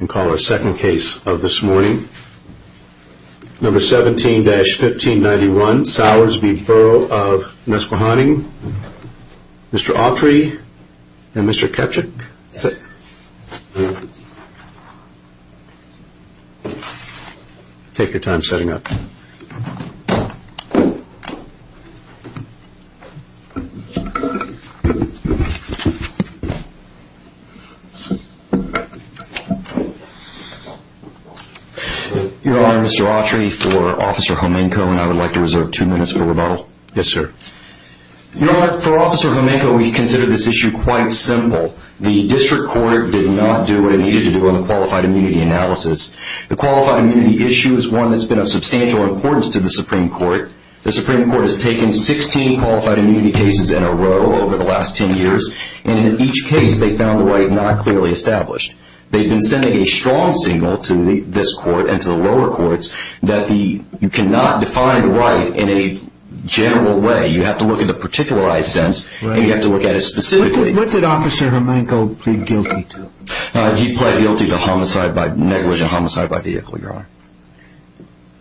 and call the second case of this morning. Number 17-1591, Sowers v. Borough of Nesquehoning. Mr. Autry and Mr. Kepchick. Take your time setting up. Your Honor, Mr. Autry, for Officer Jomenko and I would like to reserve two minutes for rebuttal. Yes, sir. Your Honor, for Officer Jomenko, we consider this issue quite simple. The district court did not do what it needed to do on the qualified immunity analysis. The qualified immunity issue is one that has been of substantial importance to the Supreme Court. The Supreme Court has taken 16 qualified immunity cases in a row over the last 10 years, and in each case they found the right not clearly established. They have been sending a strong signal to this court and to the lower courts that you cannot define the right in a general way. You have to look at it in a particularized sense, and you have to look at it specifically. What did Officer Jomenko plead guilty to? He pled guilty to negligent homicide by vehicle, Your Honor.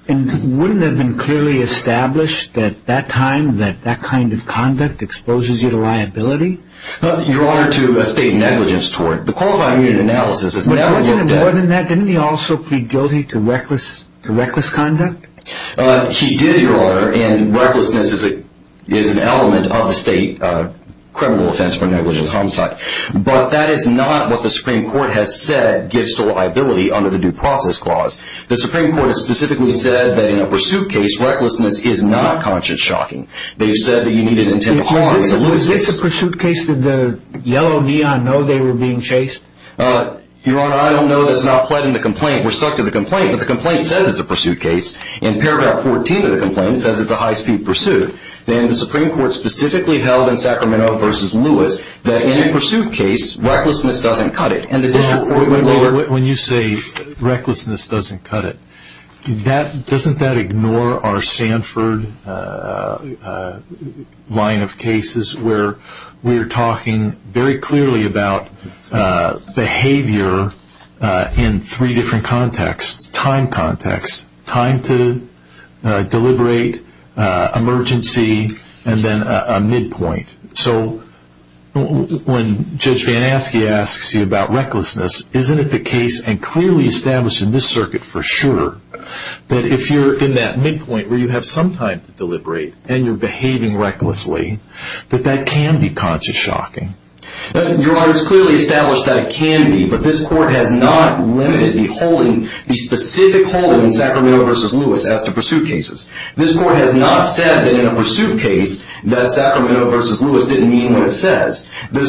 Wouldn't it have been clearly established at that time that that kind of conduct exposes you to liability? Your Honor, to a state negligence tort. But wasn't it more than that? Didn't he also plead guilty to reckless conduct? He did, Your Honor, and recklessness is an element of the state criminal offense for negligent homicide. But that is not what the Supreme Court has said gives to liability under the Due Process Clause. The Supreme Court has specifically said that in a pursuit case, recklessness is not conscience-shocking. They've said that you need an intent of harm to lose this. If it's a pursuit case, did the yellow neon know they were being chased? Your Honor, I don't know that's not what's in the complaint. We're stuck to the complaint, but the complaint says it's a pursuit case. In Paragraph 14 of the complaint, it says it's a high-speed pursuit. And the Supreme Court specifically held in Sacramento v. Lewis that in a pursuit case, recklessness doesn't cut it, and the district court went lower. When you say recklessness doesn't cut it, doesn't that ignore our Sanford line of cases where we're talking very clearly about behavior in three different contexts, time contexts, time to deliberate, emergency, and then a midpoint? So when Judge Van Aske asks you about recklessness, isn't it the case, and clearly established in this circuit for sure, that if you're in that midpoint where you have some time to deliberate and you're behaving recklessly, that that can be conscience-shocking? Your Honor, it's clearly established that it can be, but this Court has not limited the specific holding in Sacramento v. Lewis as to pursuit cases. This Court has not said that in a pursuit case that Sacramento v. Lewis didn't mean what it says. The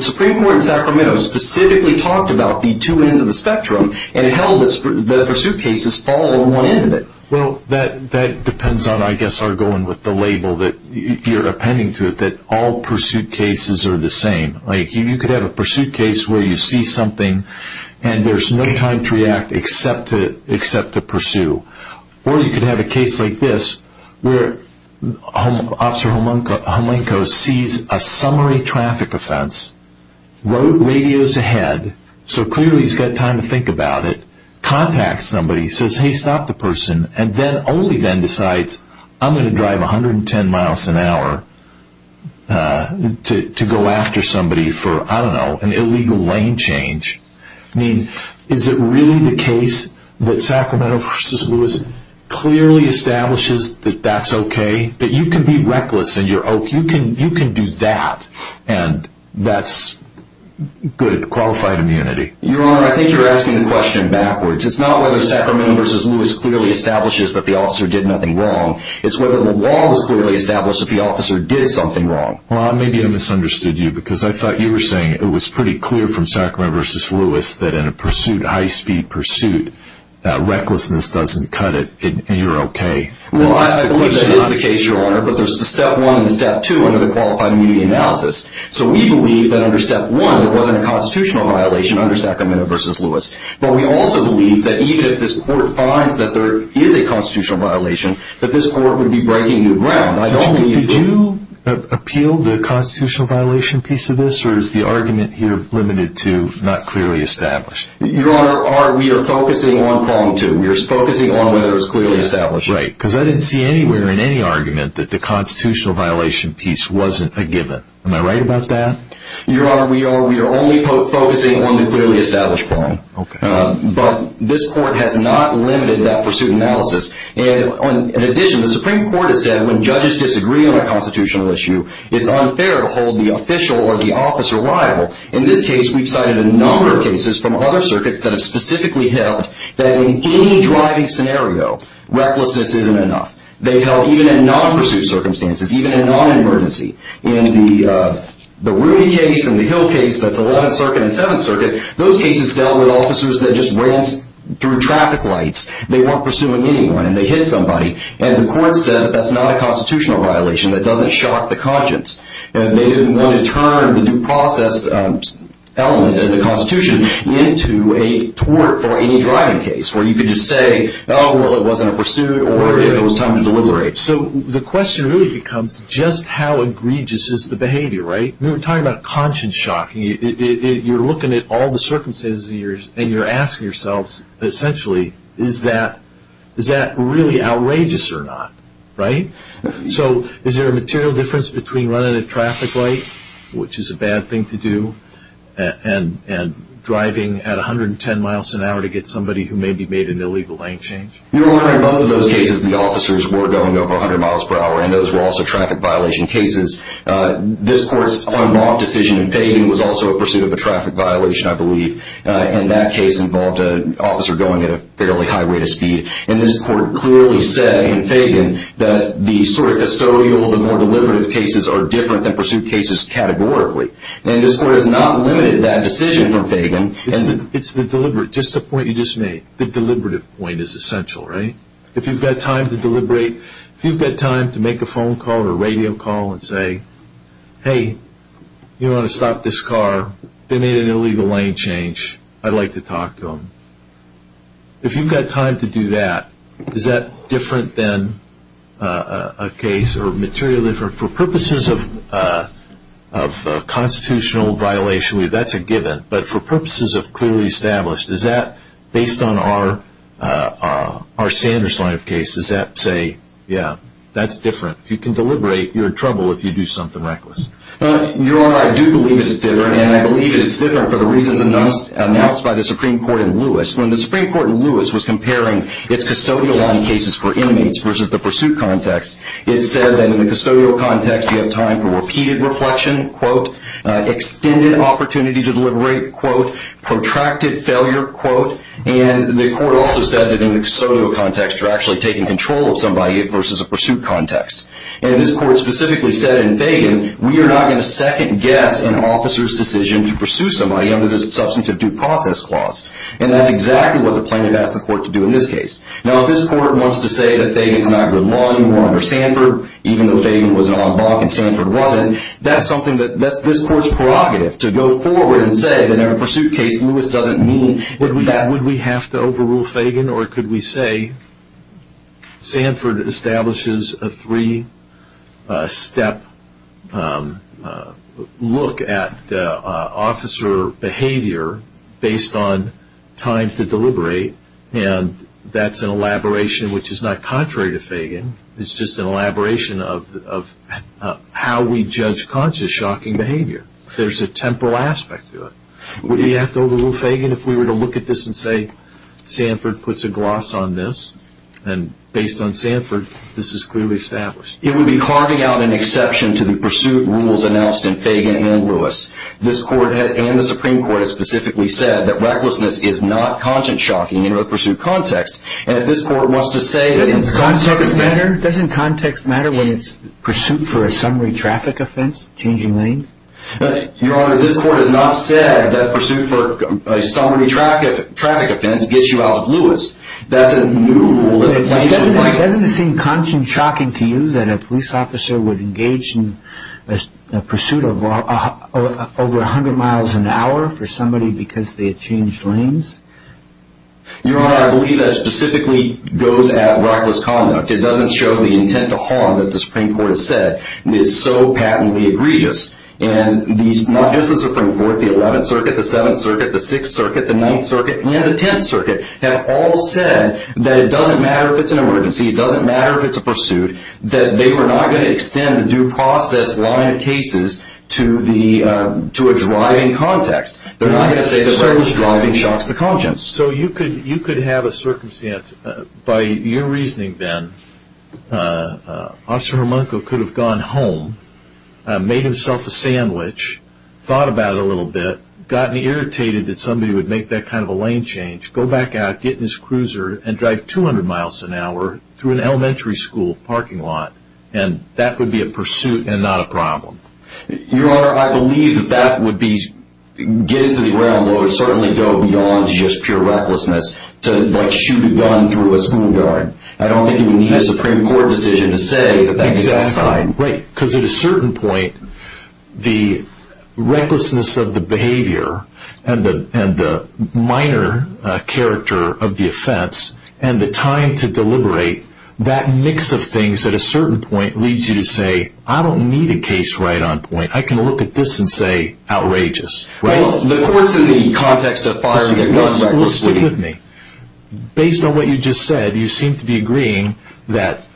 Supreme Court in Sacramento specifically talked about the two ends of the spectrum, and it held that pursuit cases fall on one end of it. Well, that depends on, I guess, our going with the label, that you're appending to it that all pursuit cases are the same. Like, you could have a pursuit case where you see something and there's no time to react except to pursue. Or you could have a case like this, where Officer Homlenko sees a summary traffic offense, rode radios ahead, so clearly he's got time to think about it, contacts somebody, says, hey, stop the person, and then only then decides, I'm going to drive 110 miles an hour to go after somebody for, I don't know, an illegal lane change. I mean, is it really the case that Sacramento v. Lewis clearly establishes that that's okay? That you can be reckless in your oath? You can do that, and that's good, qualified immunity. Your Honor, I think you're asking the question backwards. It's not whether Sacramento v. Lewis clearly establishes that the officer did nothing wrong. It's whether the law was clearly established that the officer did something wrong. Ron, maybe I misunderstood you, because I thought you were saying it was pretty clear from Sacramento v. Lewis that in a pursuit, high-speed pursuit, that recklessness doesn't cut it and you're okay. Well, I believe that is the case, Your Honor, but there's a step one and a step two under the qualified immunity analysis. So we believe that under step one, there wasn't a constitutional violation under Sacramento v. Lewis. But we also believe that even if this Court finds that there is a constitutional violation, that this Court would be breaking new ground. Did you appeal the constitutional violation piece of this, or is the argument here limited to not clearly established? Your Honor, we are focusing on problem two. We are focusing on whether it was clearly established. Right, because I didn't see anywhere in any argument that the constitutional violation piece wasn't a given. Am I right about that? Your Honor, we are only focusing on the clearly established problem. But this Court has not limited that pursuit analysis. In addition, the Supreme Court has said when judges disagree on a constitutional issue, it's unfair to hold the official or the officer liable. In this case, we've cited a number of cases from other circuits that have specifically held that in any driving scenario, recklessness isn't enough. They held even in non-pursuit circumstances, even in non-emergency. In the Ruby case and the Hill case, that's 11th Circuit and 7th Circuit, those cases dealt with officers that just ran through traffic lights. They weren't pursuing anyone, and they hit somebody. And the Court said that that's not a constitutional violation. That doesn't shock the conscience. They didn't want to turn the due process element in the Constitution into a tort for any driving case where you could just say, oh, well, it wasn't a pursuit or it was time to deliberate. So the question really becomes just how egregious is the behavior, right? We were talking about conscience shock. You're looking at all the circumstances, and you're asking yourselves, essentially, is that really outrageous or not, right? So is there a material difference between running a traffic light, which is a bad thing to do, and driving at 110 miles an hour to get somebody who maybe made an illegal lane change? Your Honor, in both of those cases, the officers were going over 100 miles per hour, and those were also traffic violation cases. This Court's unlawful decision in Fagan was also a pursuit of a traffic violation, I believe, and that case involved an officer going at a fairly high rate of speed. And this Court clearly said in Fagan that the sort of custodial, the more deliberative cases, are different than pursuit cases categorically. And this Court has not limited that decision from Fagan. It's the deliberate, just the point you just made. The deliberative point is essential, right? If you've got time to deliberate, if you've got time to make a phone call or radio call and say, hey, you want to stop this car? They made an illegal lane change. I'd like to talk to them. If you've got time to do that, is that different than a case or material difference? For purposes of constitutional violation, that's a given. But for purposes of clearly established, is that, based on our Sanders line of case, does that say, yeah, that's different? If you can deliberate, you're in trouble if you do something reckless. Your Honor, I do believe it's different, and I believe it's different for the reasons announced by the Supreme Court in Lewis. When the Supreme Court in Lewis was comparing its custodial line cases for inmates versus the pursuit context, it said that in the custodial context, you have time for repeated reflection, quote, extended opportunity to deliberate, quote, protracted failure, quote. And the court also said that in the custodial context, you're actually taking control of somebody versus a pursuit context. And this court specifically said in Fagan, we are not going to second-guess an officer's decision to pursue somebody under the substantive due process clause. And that's exactly what the plaintiff asked the court to do in this case. Now, if this court wants to say that Fagan's not good law anymore under Sanford, even though Fagan was an oddball and Sanford wasn't, that's this court's prerogative to go forward and say that in a pursuit case, Lewis doesn't mean that. Would we have to overrule Fagan, or could we say Sanford establishes a three-step look at officer behavior based on time to deliberate, and that's an elaboration which is not contrary to Fagan. It's just an elaboration of how we judge conscious, shocking behavior. There's a temporal aspect to it. Would we have to overrule Fagan if we were to look at this and say Sanford puts a gloss on this, and based on Sanford, this is clearly established? It would be carving out an exception to the pursuit rules announced in Fagan and Lewis. This court and the Supreme Court have specifically said that recklessness is not conscience-shocking in a pursuit context. Doesn't context matter when it's pursuit for a summary traffic offense, changing lanes? Your Honor, this court has not said that pursuit for a summary traffic offense gets you out of Lewis. Doesn't it seem conscience-shocking to you that a police officer would engage in a pursuit of over 100 miles an hour for somebody because they had changed lanes? Your Honor, I believe that specifically goes at reckless conduct. It doesn't show the intent to harm that the Supreme Court has said is so patently egregious, and not just the Supreme Court, the 11th Circuit, the 7th Circuit, the 6th Circuit, the 9th Circuit, and the 10th Circuit have all said that it doesn't matter if it's an emergency, it doesn't matter if it's a pursuit, that they were not going to extend a due process line of cases to a driving context. They're not going to say that reckless driving shocks the conscience. So you could have a circumstance, by your reasoning, Ben, Officer Hermunko could have gone home, made himself a sandwich, thought about it a little bit, gotten irritated that somebody would make that kind of a lane change, go back out, get in his cruiser, and drive 200 miles an hour through an elementary school parking lot, and that would be a pursuit and not a problem. Your Honor, I believe that that would be, get it to the ground, but it would certainly go beyond just pure recklessness to shoot a gun through a school guard. I don't think you would need a Supreme Court decision to say that that is a crime. Right, because at a certain point, the recklessness of the behavior and the minor character of the offense and the time to deliberate, that mix of things at a certain point leads you to say, I don't need a case right on point. I can look at this and say outrageous. Well, of course in the context of firing a gun recklessly. Listen to me. Based on what you just said, you seem to be agreeing that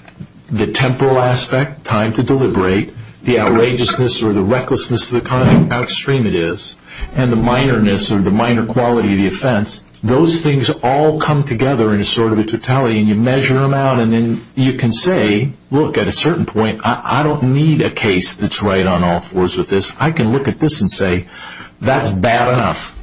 the temporal aspect, time to deliberate, the outrageousness or the recklessness of the kind of outstream it is, and the minoreness or the minor quality of the offense, those things all come together in sort of a totality and you measure them out and then you can say, look, at a certain point, I don't need a case that's right on all fours with this. I can look at this and say that's bad enough.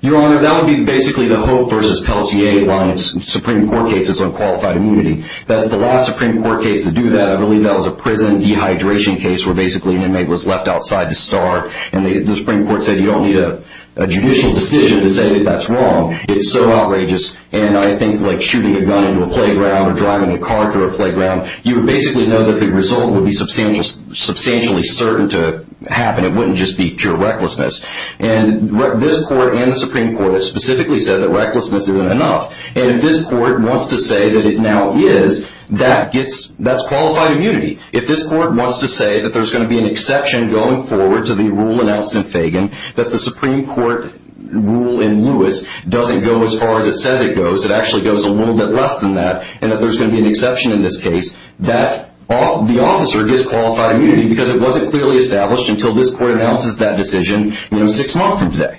Your Honor, that would be basically the Hope v. Pelletier line of Supreme Court cases on qualified immunity. That's the last Supreme Court case to do that. I believe that was a prison dehydration case where basically an inmate was left outside to starve and the Supreme Court said you don't need a judicial decision to say that that's wrong. It's so outrageous. And I think like shooting a gun into a playground or driving a car through a playground, you would basically know that the result would be substantially certain to happen. It wouldn't just be pure recklessness. And this Court and the Supreme Court have specifically said that recklessness isn't enough. And if this Court wants to say that it now is, that's qualified immunity. If this Court wants to say that there's going to be an exception going forward to the rule announced in Fagan, that the Supreme Court rule in Lewis doesn't go as far as it says it goes, it actually goes a little bit less than that, and that there's going to be an exception in this case, that the officer gets qualified immunity because it wasn't clearly established until this Court announces that decision six months from today.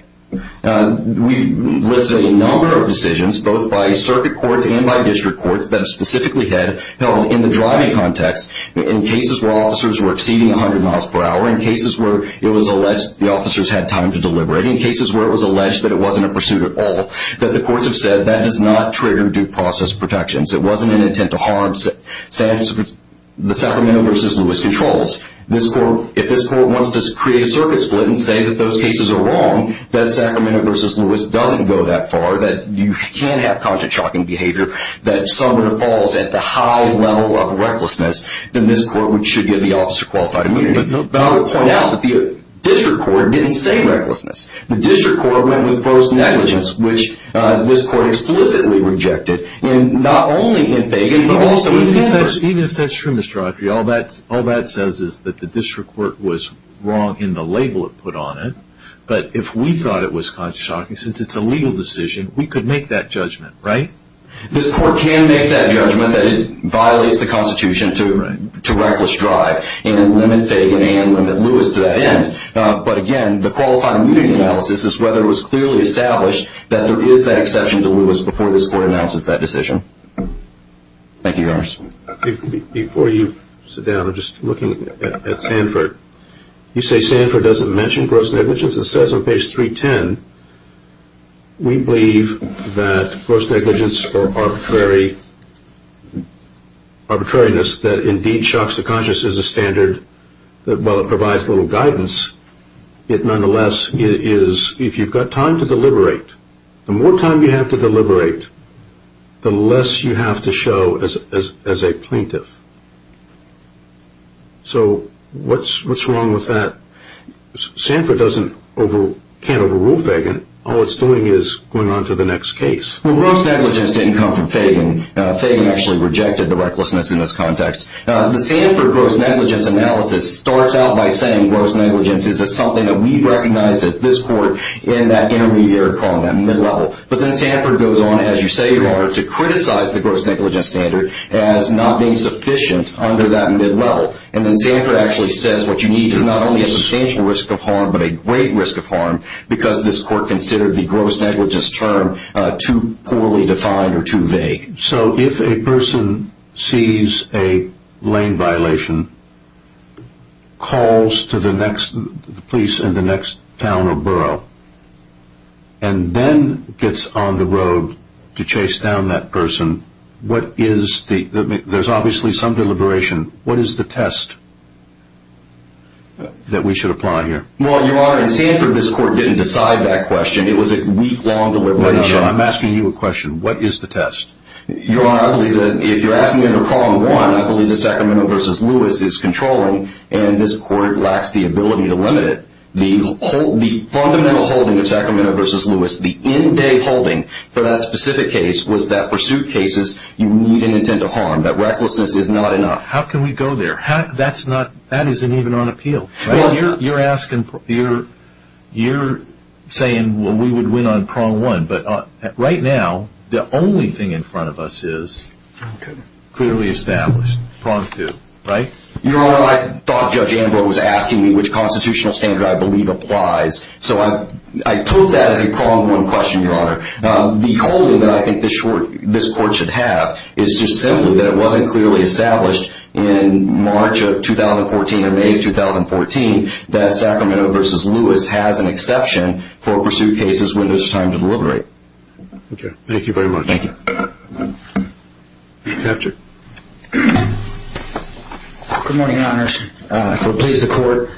We've listed a number of decisions, both by circuit courts and by district courts, that have specifically held in the driving context in cases where officers were exceeding 100 miles per hour, in cases where it was alleged the officers had time to deliberate, in cases where it was alleged that it wasn't a pursuit at all, that the courts have said that does not trigger due process protections. It wasn't an intent to harm the Sacramento v. Lewis controls. If this Court wants to create a circuit split and say that those cases are wrong, that Sacramento v. Lewis doesn't go that far, that you can't have conjecture-shocking behavior, that someone falls at the high level of recklessness, then this Court should give the officer qualified immunity. But I will point out that the district court didn't say recklessness. The district court went with gross negligence, which this Court explicitly rejected, not only in Fagan, but also in Sanford. Even if that's true, Mr. Autry, all that says is that the district court was wrong in the label it put on it. But if we thought it was conjecture-shocking, since it's a legal decision, we could make that judgment, right? This Court can make that judgment that it violates the Constitution to reckless drive and limit Fagan and limit Lewis to that end. But again, the qualified immunity analysis is whether it was clearly established that there is that exception to Lewis before this Court announces that decision. Thank you, yours. Before you sit down, I'm just looking at Sanford. You say Sanford doesn't mention gross negligence. It says on page 310, we believe that gross negligence or arbitrariness that indeed shocks the conscious is a standard that while it provides little guidance, it nonetheless is if you've got time to deliberate. The more time you have to deliberate, the less you have to show as a plaintiff. So what's wrong with that? Sanford can't overrule Fagan. All it's doing is going on to the next case. Well, gross negligence didn't come from Fagan. Fagan actually rejected the recklessness in this context. The Sanford gross negligence analysis starts out by saying gross negligence is something that we've recognized as this Court in that intermediary column, that mid-level. But then Sanford goes on, as you say, Your Honor, to criticize the gross negligence standard as not being sufficient under that mid-level. And then Sanford actually says what you need is not only a substantial risk of harm but a great risk of harm because this Court considered the gross negligence term too poorly defined or too vague. So if a person sees a lane violation, calls the police in the next town or borough, and then gets on the road to chase down that person, there's obviously some deliberation. What is the test that we should apply here? Well, Your Honor, in Sanford this Court didn't decide that question. It was a week-long deliberation. I'm asking you a question. What is the test? Your Honor, I believe that if you're asking under Prong 1, I believe that Sacramento v. Lewis is controlling, and this Court lacks the ability to limit it. The fundamental holding of Sacramento v. Lewis, the end-day holding for that specific case, was that pursuit cases you need an intent to harm, that recklessness is not enough. How can we go there? That isn't even on appeal. Well, you're saying, well, we would win on Prong 1, but right now the only thing in front of us is clearly established, Prong 2, right? Your Honor, I thought Judge Ambrose was asking me which constitutional standard I believe applies. So I took that as a Prong 1 question, Your Honor. The holding that I think this Court should have is just simply that it wasn't clearly established in March of 2014 or May of 2014 that Sacramento v. Lewis has an exception for pursuit cases when there's time to deliberate. Okay. Thank you very much. Thank you. Captain. Good morning, Your Honor. If it will please the Court.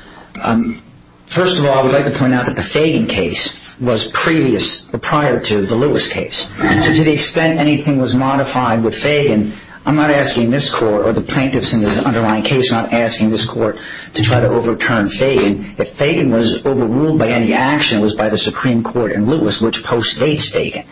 First of all, I would like to point out that the Fagan case was prior to the Lewis case. So to the extent anything was modified with Fagan, I'm not asking this Court, or the plaintiffs in this underlying case, I'm not asking this Court to try to overturn Fagan. If Fagan was overruled by any action, it was by the Supreme Court in Lewis, which postdates Fagan.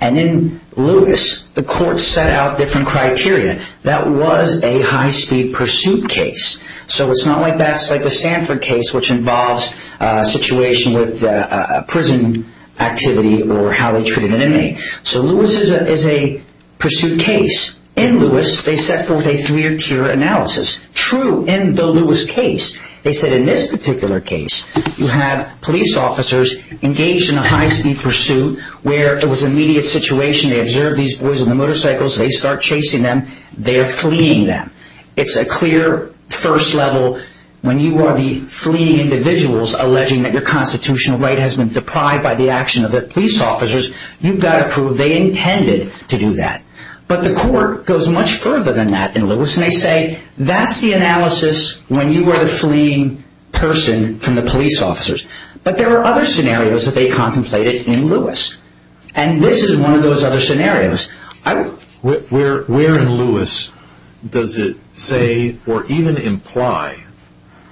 And in Lewis, the Court set out different criteria. That was a high-speed pursuit case. So it's not like that's like a Sanford case, which involves a situation with a prison activity or how they treated an inmate. So Lewis is a pursuit case. In Lewis, they set forth a three-tier analysis. True, in the Lewis case, they said in this particular case, you have police officers engaged in a high-speed pursuit where it was an immediate situation. They observe these boys on the motorcycles. They start chasing them. They are fleeing them. It's a clear first level. When you are the fleeing individuals alleging that your constitutional right has been deprived by the action of the police officers, you've got to prove they intended to do that. But the Court goes much further than that in Lewis, and they say, that's the analysis when you were the fleeing person from the police officers. But there are other scenarios that they contemplated in Lewis. And this is one of those other scenarios. Where in Lewis does it say or even imply?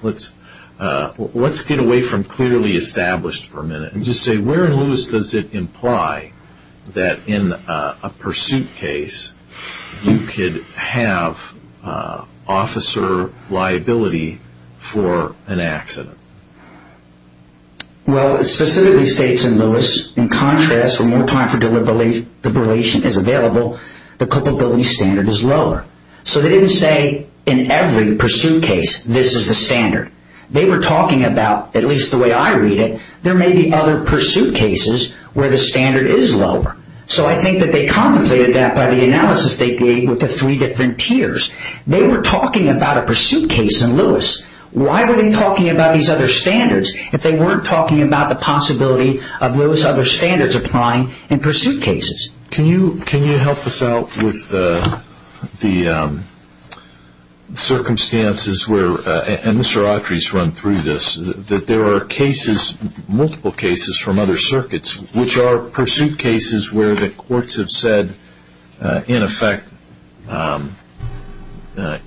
Let's get away from clearly established for a minute and just say where in Lewis does it imply that in a pursuit case, you could have officer liability for an accident? Well, it specifically states in Lewis, in contrast, when more time for deliberation is available, the culpability standard is lower. So they didn't say in every pursuit case, this is the standard. They were talking about, at least the way I read it, there may be other pursuit cases where the standard is lower. So I think that they contemplated that by the analysis they gave with the three different tiers. They were talking about a pursuit case in Lewis. Why were they talking about these other standards if they weren't talking about the possibility of those other standards applying in pursuit cases? Can you help us out with the circumstances where, and Mr. Autry's run through this, that there are cases, multiple cases from other circuits, which are pursuit cases where the courts have said, in effect,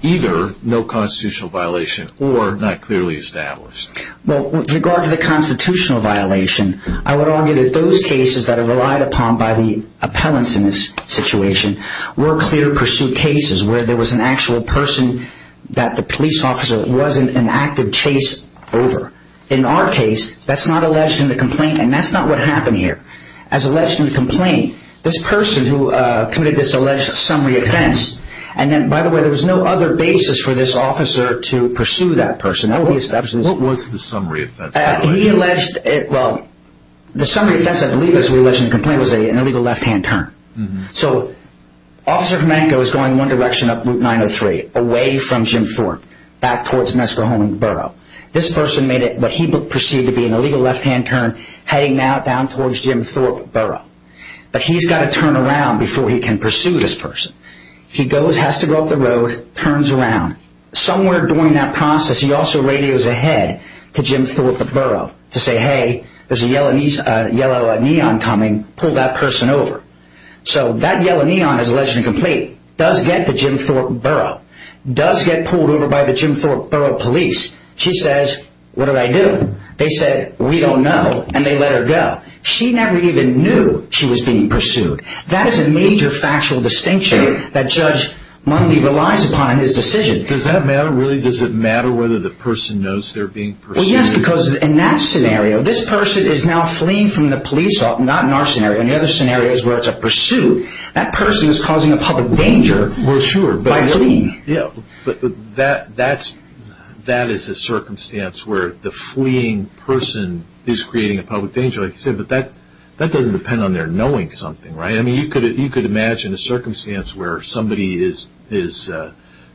either no constitutional violation or not clearly established? Well, with regard to the constitutional violation, I would argue that those cases that are relied upon by the appellants in this situation were clear pursuit cases where there was an actual person that the police officer wasn't in active chase over. In our case, that's not alleged in the complaint, and that's not what happened here. As alleged in the complaint, this person who committed this alleged summary offense, and then, by the way, there was no other basis for this officer to pursue that person. What was the summary offense? He alleged, well, the summary offense, I believe, as we alleged in the complaint, was an illegal left-hand turn. So, Officer Fomenko is going one direction up Route 903, away from Jim Thorpe, back towards Mescajone Borough. This person made what he perceived to be an illegal left-hand turn, heading now down towards Jim Thorpe Borough. But he's got to turn around before he can pursue this person. He has to go up the road, turns around. Somewhere during that process, he also radios ahead to Jim Thorpe Borough to say, hey, there's a yellow neon coming, pull that person over. So, that yellow neon, as alleged in the complaint, does get to Jim Thorpe Borough, does get pulled over by the Jim Thorpe Borough Police. She says, what did I do? They said, we don't know, and they let her go. She never even knew she was being pursued. That is a major factual distinction that Judge Mundy relies upon in his decision. Does that matter, really? Does it matter whether the person knows they're being pursued? Well, yes, because in that scenario, this person is now fleeing from the police, not in our scenario. In the other scenarios where it's a pursuit, that person is causing a public danger by fleeing. Well, sure, but that is a circumstance where the fleeing person is creating a public danger. But that doesn't depend on their knowing something, right? I mean, you could imagine a circumstance where somebody is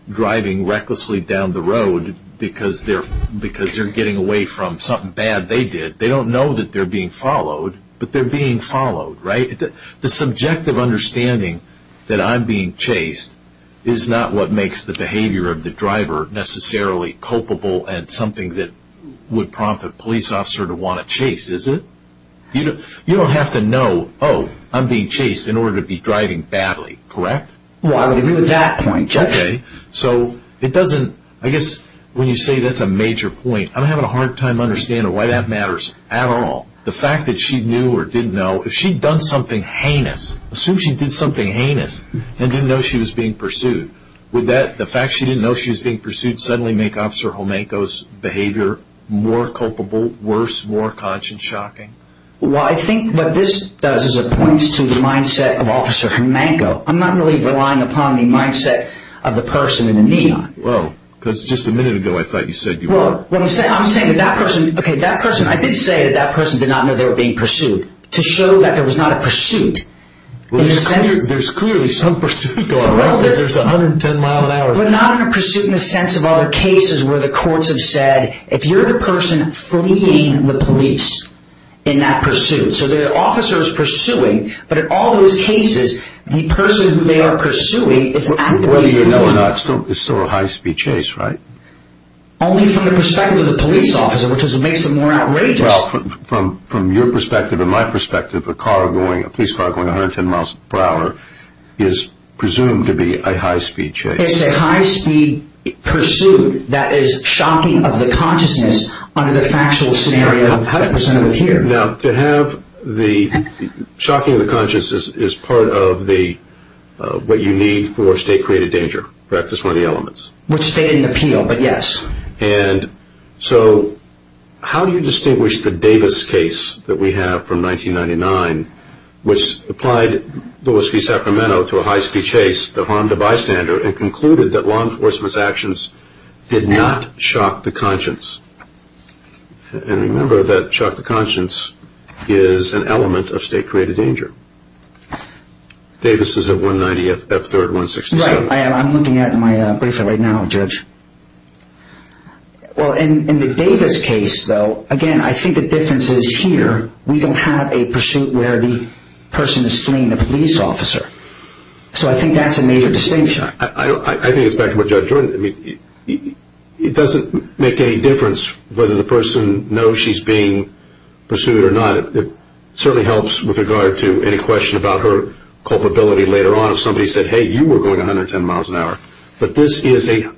driving recklessly down the road because they're getting away from something bad they did. They don't know that they're being followed, but they're being followed, right? The subjective understanding that I'm being chased is not what makes the behavior of the driver necessarily culpable and something that would prompt a police officer to want to chase, is it? You don't have to know, oh, I'm being chased in order to be driving badly, correct? Well, I would agree with that point, Judge. Okay, so it doesn't, I guess when you say that's a major point, I'm having a hard time understanding why that matters at all. The fact that she knew or didn't know, if she'd done something heinous, assume she did something heinous and didn't know she was being pursued, would that, the fact she didn't know she was being pursued, suddenly make Officer Jomanko's behavior more culpable, worse, more conscious, shocking? Well, I think what this does is it points to the mindset of Officer Jomanko. I'm not really relying upon the mindset of the person in the neon. Well, because just a minute ago I thought you said you were. Well, what I'm saying, I'm saying that that person, okay, that person, I did say that that person did not know they were being pursued. To show that there was not a pursuit. Well, there's clearly some pursuit going on, right? Because there's 110 miles an hour. But not in a pursuit in the sense of other cases where the courts have said, if you're the person fleeing the police in that pursuit, so the officer is pursuing, but in all those cases, the person who they are pursuing is actively fleeing. Whether you know or not, it's still a high speed chase, right? Only from the perspective of the police officer, which is what makes it more outrageous. Well, from your perspective and my perspective, a police car going 110 miles per hour is presumed to be a high speed chase. It's a high speed pursuit that is shocking of the consciousness under the factual scenario presented here. Now, to have the shocking of the consciousness is part of what you need for state-created danger, correct? That's one of the elements. Which stated in the appeal, but yes. And so how do you distinguish the Davis case that we have from 1999, which applied Lewis v. Sacramento to a high speed chase that harmed a bystander and concluded that law enforcement's actions did not shock the conscience? And remember that shock to conscience is an element of state-created danger. Davis is at 190 F3rd 167th. I'm looking at my briefer right now, Judge. Well, in the Davis case, though, again, I think the difference is here, we don't have a pursuit where the person is fleeing the police officer. So I think that's a major distinction. I think it's back to what Judge Jordan said. It doesn't make any difference whether the person knows she's being pursued or not. It certainly helps with regard to any question about her culpability later on. So somebody said, hey, you were going 110 miles an hour, but this is a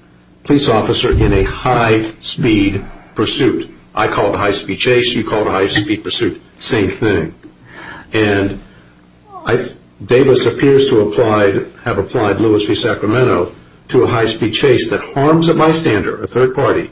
police officer in a high speed pursuit. I call it a high speed chase. You call it a high speed pursuit. Same thing. And Davis appears to have applied Lewis v. Sacramento to a high speed chase that harms a bystander, a third party,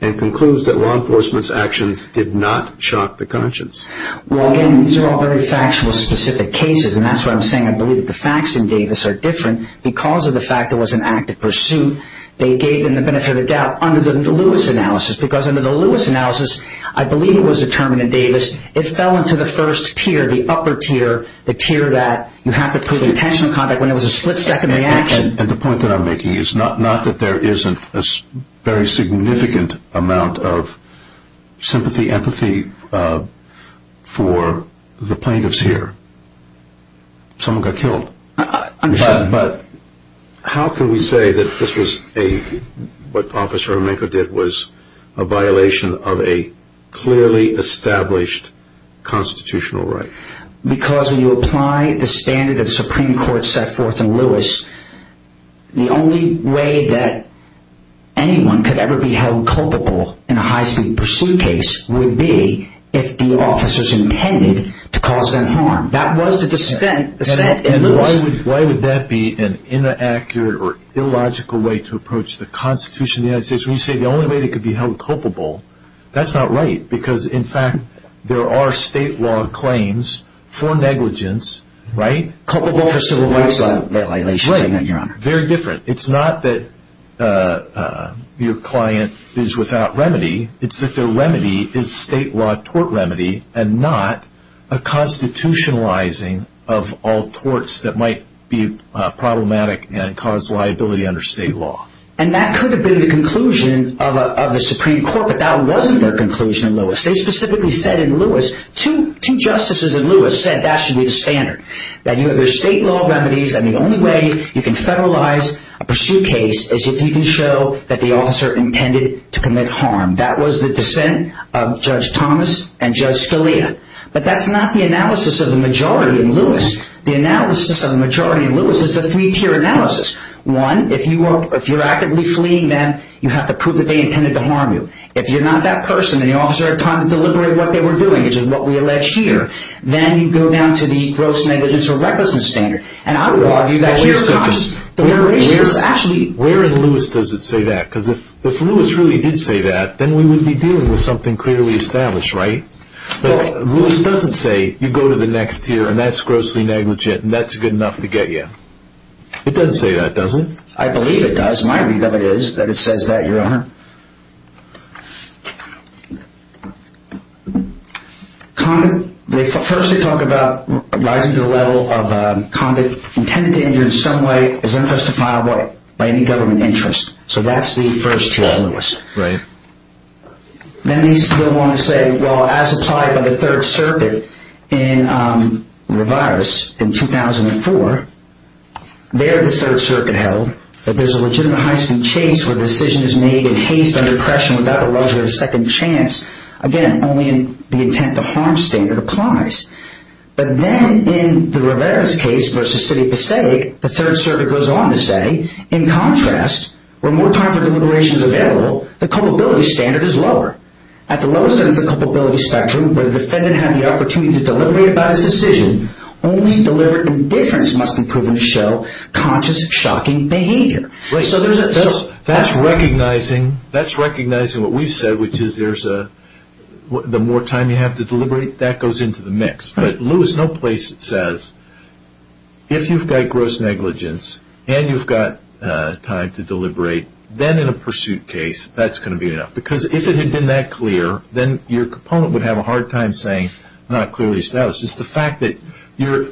and concludes that law enforcement's actions did not shock the conscience. Well, again, these are all very factual, specific cases, and that's why I'm saying I believe the facts in Davis are different. Because of the fact it was an active pursuit, they gave them the benefit of the doubt under the Lewis analysis because under the Lewis analysis, I believe it was determined in Davis, it fell into the first tier, the upper tier, the tier that you have to prove intentional conduct when it was a split-second reaction. And the point that I'm making is not that there isn't a very significant amount of sympathy, empathy for the plaintiffs here. Someone got killed. I understand. But how can we say that this was a, what Officer Emengo did was a violation of a clearly established constitutional right? Because when you apply the standard that the Supreme Court set forth in Lewis, the only way that anyone could ever be held culpable in a high-speed pursuit case would be if the officers intended to cause them harm. That was the dissent in Lewis. Why would that be an inaccurate or illogical way to approach the Constitution of the United States when you say the only way they could be held culpable? That's not right. Because, in fact, there are state law claims for negligence, right? Culpable for civil rights violations. Right. Very different. It's not that your client is without remedy. It's that their remedy is state law tort remedy and not a constitutionalizing of all torts that might be problematic and cause liability under state law. And that could have been the conclusion of the Supreme Court, but that wasn't their conclusion in Lewis. They specifically said in Lewis, two justices in Lewis said that should be the standard. That there's state law remedies and the only way you can federalize a pursuit case is if you can show that the officer intended to commit harm. That was the dissent of Judge Thomas and Judge Scalia. But that's not the analysis of the majority in Lewis. The analysis of the majority in Lewis is the three-tier analysis. One, if you're actively fleeing them, you have to prove that they intended to harm you. If you're not that person and the officer had time to deliberate what they were doing, which is what we allege here, then you go down to the gross negligence or recklessness standard. And I would argue that you're conscious. Where in Lewis does it say that? Because if Lewis really did say that, then we would be dealing with something clearly established, right? But Lewis doesn't say you go to the next tier and that's grossly negligent and that's good enough to get you. It doesn't say that, does it? I believe it does. My read of it is that it says that, Your Honor. First they talk about rising to the level of conduct intended to injure in some way is unjustifiable by any government interest. So that's the first tier in Lewis. Then they still want to say, well, as applied by the Third Circuit in Revirus in 2004, there the Third Circuit held that there's a legitimate high speed chase where the decision is made in haste, under pressure, without the luxury of a second chance. Again, only in the intent to harm standard applies. But then in the Revirus case versus City of Passaic, the Third Circuit goes on to say, in contrast, where more time for deliberation is available, the culpability standard is lower. At the lowest end of the culpability spectrum, where the defendant had the opportunity to deliberate about his decision, only deliberate indifference must be proven to show conscious, shocking behavior. That's recognizing what we've said, which is the more time you have to deliberate, that goes into the mix. But Lewis, no place says if you've got gross negligence and you've got time to deliberate, then in a pursuit case, that's going to be enough. Because if it had been that clear, then your component would have a hard time saying not clearly established. It's the fact that you're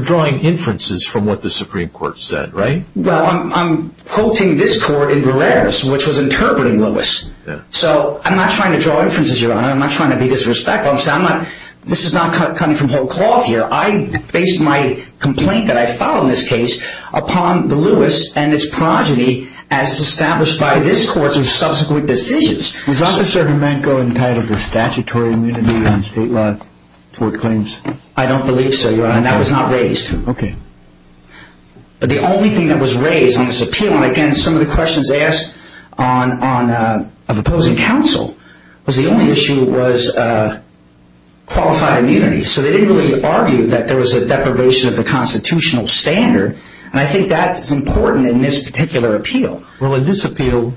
drawing inferences from what the Supreme Court said, right? Well, I'm quoting this court in Barreras, which was interpreting Lewis. So I'm not trying to draw inferences, Your Honor. I'm not trying to be disrespectful. This is not coming from Holt Clough here. I base my complaint that I filed in this case upon the Lewis and its progeny as established by this court of subsequent decisions. Was Officer Jimenko entitled to statutory immunity in state law toward claims? I don't believe so, Your Honor. That was not raised. Okay. But the only thing that was raised in this appeal, and again, some of the questions asked of opposing counsel, was the only issue was qualified immunity. So they didn't really argue that there was a deprivation of the constitutional standard, and I think that's important in this particular appeal. Well, in this appeal,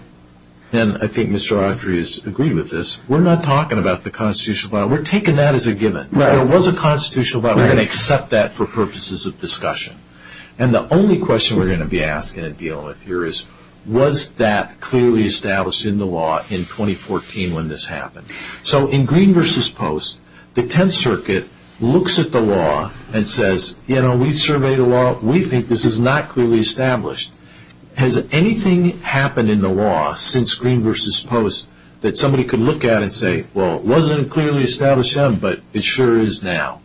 and I think Mr. Audrey has agreed with this, we're not talking about the constitutional law. We're taking that as a given. If there was a constitutional law, we're going to accept that for purposes of discussion. And the only question we're going to be asking and dealing with here is, was that clearly established in the law in 2014 when this happened? So in Green v. Post, the Tenth Circuit looks at the law and says, you know, we surveyed the law. We think this is not clearly established. Has anything happened in the law since Green v. Post that somebody could look at and say, well, it wasn't clearly established then, but it sure is now?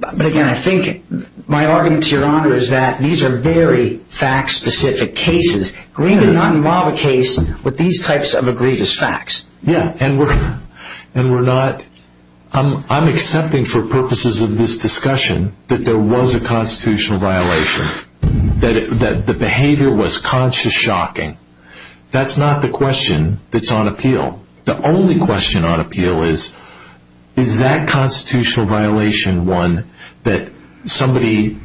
But again, I think my argument to Your Honor is that these are very fact-specific cases. Green did not involve a case with these types of egregious facts. Yeah, and we're not – I'm accepting for purposes of this discussion that there was a constitutional violation, that the behavior was conscious shocking. That's not the question that's on appeal. The only question on appeal is, is that constitutional violation one that somebody,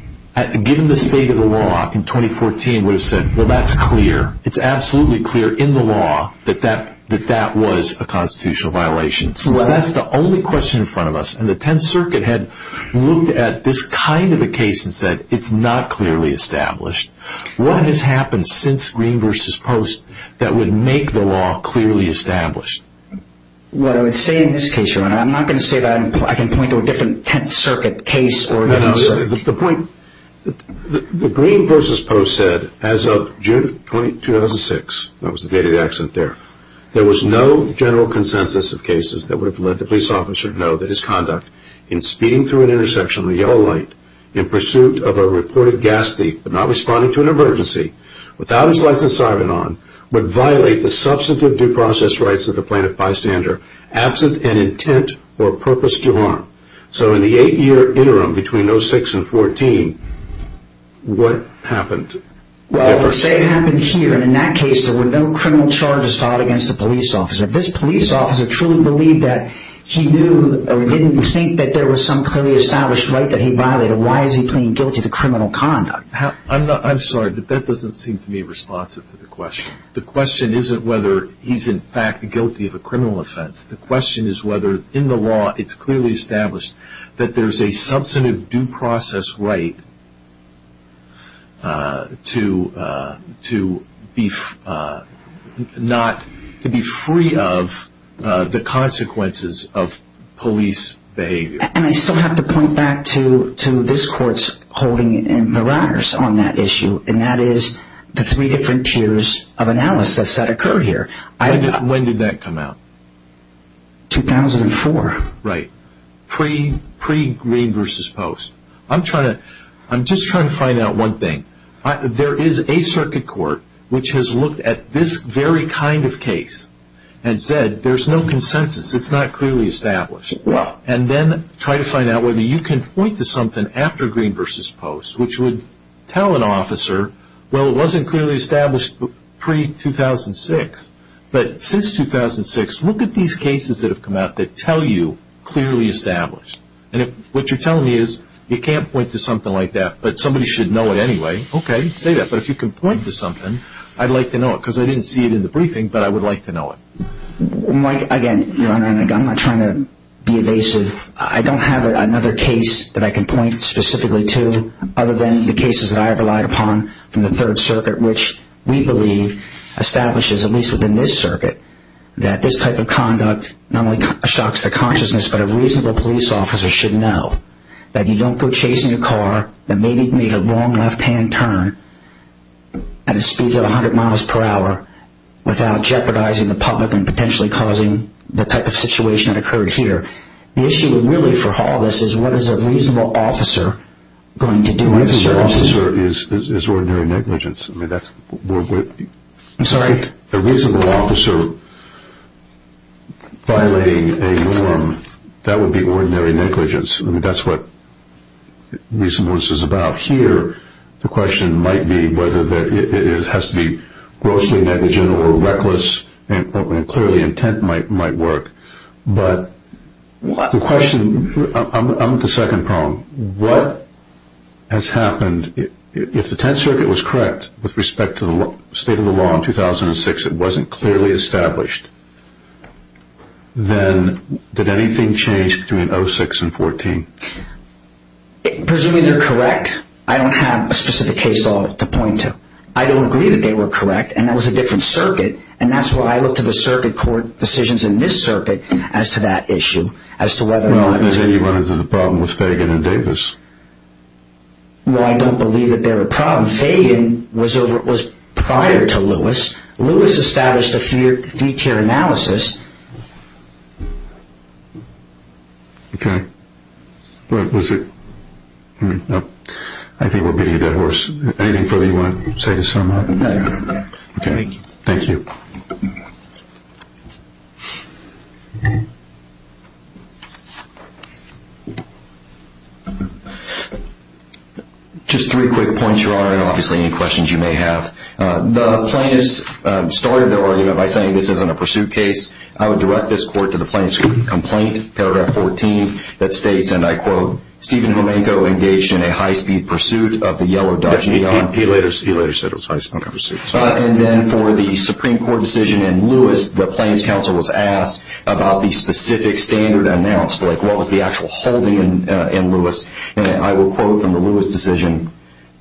given the state of the law in 2014, would have said, well, that's clear. It's absolutely clear in the law that that was a constitutional violation. So that's the only question in front of us. And the Tenth Circuit had looked at this kind of a case and said, it's not clearly established. What has happened since Green v. Post that would make the law clearly established? What I would say in this case, Your Honor, I'm not going to say that I can point to a different Tenth Circuit case or – The point – the Green v. Post said as of June 2006, that was the date of the accident there, there was no general consensus of cases that would have let the police officer know that his conduct in speeding through an intersection with a yellow light in pursuit of a reported gas thief, but not responding to an emergency, without his license siren on, would violate the substantive due process rights of the plaintiff bystander, absent an intent or purpose to harm. So in the eight-year interim between 06 and 14, what happened? Well, say it happened here, and in that case there were no criminal charges filed against the police officer. If this police officer truly believed that he knew or didn't think that there was some clearly established right that he violated, why is he plain guilty to criminal conduct? I'm sorry, but that doesn't seem to me responsive to the question. The question isn't whether he's in fact guilty of a criminal offense. The question is whether in the law it's clearly established that there's a substantive due process right to be free of the consequences of police behavior. And I still have to point back to this Court's holding in Maranus on that issue, and that is the three different tiers of analysis that occur here. When did that come out? 2004. Right. Pre-Green v. Post. I'm just trying to find out one thing. There is a circuit court which has looked at this very kind of case and said there's no consensus, it's not clearly established. And then try to find out whether you can point to something after Green v. Post which would tell an officer, well, it wasn't clearly established pre-2006, but since 2006 look at these cases that have come out that tell you clearly established. And what you're telling me is you can't point to something like that, but somebody should know it anyway. Okay, say that, but if you can point to something, I'd like to know it, because I didn't see it in the briefing, but I would like to know it. Mike, again, Your Honor, I'm not trying to be evasive. I don't have another case that I can point specifically to other than the cases that I've relied upon from the Third Circuit, which we believe establishes, at least within this circuit, that this type of conduct not only shocks the consciousness, but a reasonable police officer should know that you don't go chasing a car that maybe made a wrong left-hand turn at speeds of 100 miles per hour without jeopardizing the public and potentially causing the type of situation that occurred here. The issue really for all of this is what is a reasonable officer going to do? A reasonable officer is ordinary negligence. I'm sorry? A reasonable officer violating a norm, that would be ordinary negligence. I mean, that's what reasonableness is about. Here the question might be whether it has to be grossly negligent or reckless, and clearly intent might work. But the question – I'm at the second problem. What has happened? If the Tenth Circuit was correct with respect to the state of the law in 2006, it wasn't clearly established, then did anything change between 06 and 14? Presumably they're correct. I don't have a specific case to point to. I don't agree that they were correct, and that was a different circuit, and that's why I looked at the circuit court decisions in this circuit as to that issue, as to whether or not – Well, then you run into the problem with Fagan and Davis. Well, I don't believe that they're a problem. Fagan was prior to Lewis. Lewis established a three-tier analysis. Okay. I think we're beating a dead horse. Anything further you want to say to sum up? No, I'm done. Okay. Thank you. Just three quick points, Your Honor, and obviously any questions you may have. The plaintiffs started their argument by saying this isn't a pursuit case. I would direct this court to the plaintiff's complaint, paragraph 14, that states, and I quote, Stephen Homenko engaged in a high-speed pursuit of the yellow Dodge Neon. He later said it was a high-speed pursuit. And then for the Supreme Court decision in Lewis, the plaintiff's counsel was asked about the specific standard that was announced, like what was the actual holding in Lewis. And I will quote from the Lewis decision,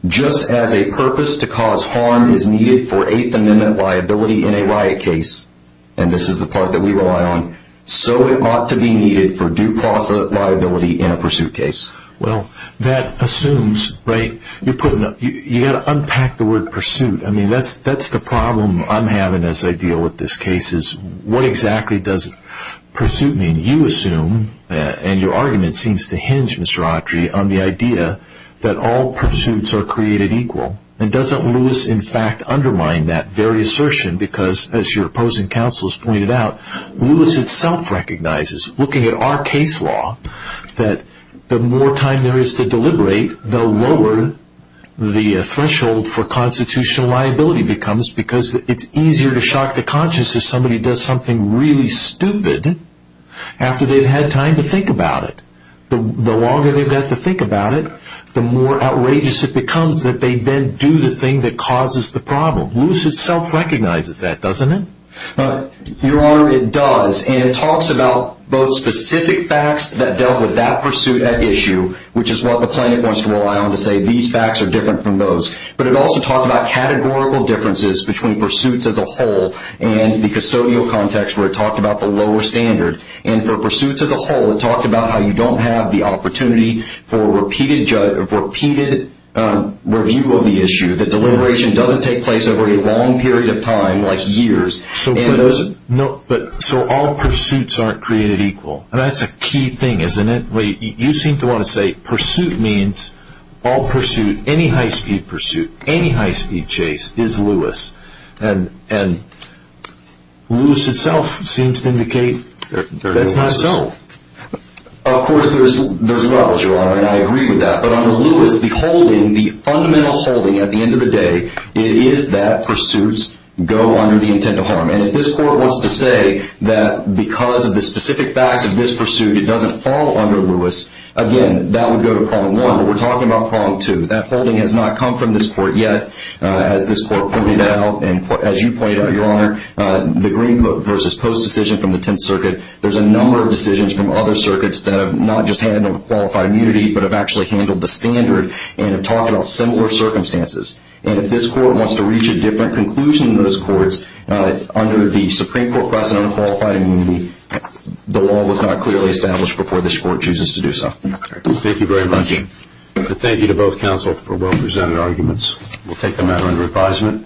just as a purpose to cause harm is needed for Eighth Amendment liability in a riot case, and this is the part that we rely on, so it ought to be needed for due process liability in a pursuit case. Well, that assumes, right, you've got to unpack the word pursuit. I mean, that's the problem I'm having as I deal with this case, is what exactly does pursuit mean? You assume, and your argument seems to hinge, Mr. Autry, on the idea that all pursuits are created equal. And doesn't Lewis, in fact, undermine that very assertion? Because, as your opposing counsel has pointed out, Lewis itself recognizes, looking at our case law, that the more time there is to deliberate, the lower the threshold for constitutional liability becomes because it's easier to shock the conscience if somebody does something really stupid after they've had time to think about it. The longer they've got to think about it, the more outrageous it becomes that they then do the thing that causes the problem. Lewis itself recognizes that, doesn't it? Your Honor, it does. And it talks about both specific facts that dealt with that pursuit at issue, which is what the plaintiff wants to rely on to say these facts are different from those, but it also talks about categorical differences between pursuits as a whole and the custodial context where it talked about the lower standard. And for pursuits as a whole, it talked about how you don't have the opportunity for a repeated review of the issue, that deliberation doesn't take place over a long period of time, like years. So all pursuits aren't created equal. That's a key thing, isn't it? You seem to want to say pursuit means all pursuit, any high-speed pursuit, any high-speed chase is Lewis. And Lewis itself seems to indicate that's not so. Of course, there's a lot, Your Honor, and I agree with that. But under Lewis, the holding, the fundamental holding at the end of the day, it is that pursuits go under the intent of harm. And if this Court wants to say that because of the specific facts of this pursuit, it doesn't fall under Lewis, again, that would go to Problem 1. But we're talking about Problem 2. That holding has not come from this Court yet, as this Court pointed out and as you pointed out, Your Honor, the Green Coat v. Post decision from the Tenth Circuit, there's a number of decisions from other circuits that have not just handled qualified immunity but have actually handled the standard and have talked about similar circumstances. And if this Court wants to reach a different conclusion than those courts, under the Supreme Court precedent of qualified immunity, the law was not clearly established before this Court chooses to do so. Thank you very much. Thank you. Thank you to both counsel for well-presented arguments. We'll take the matter into reprisement.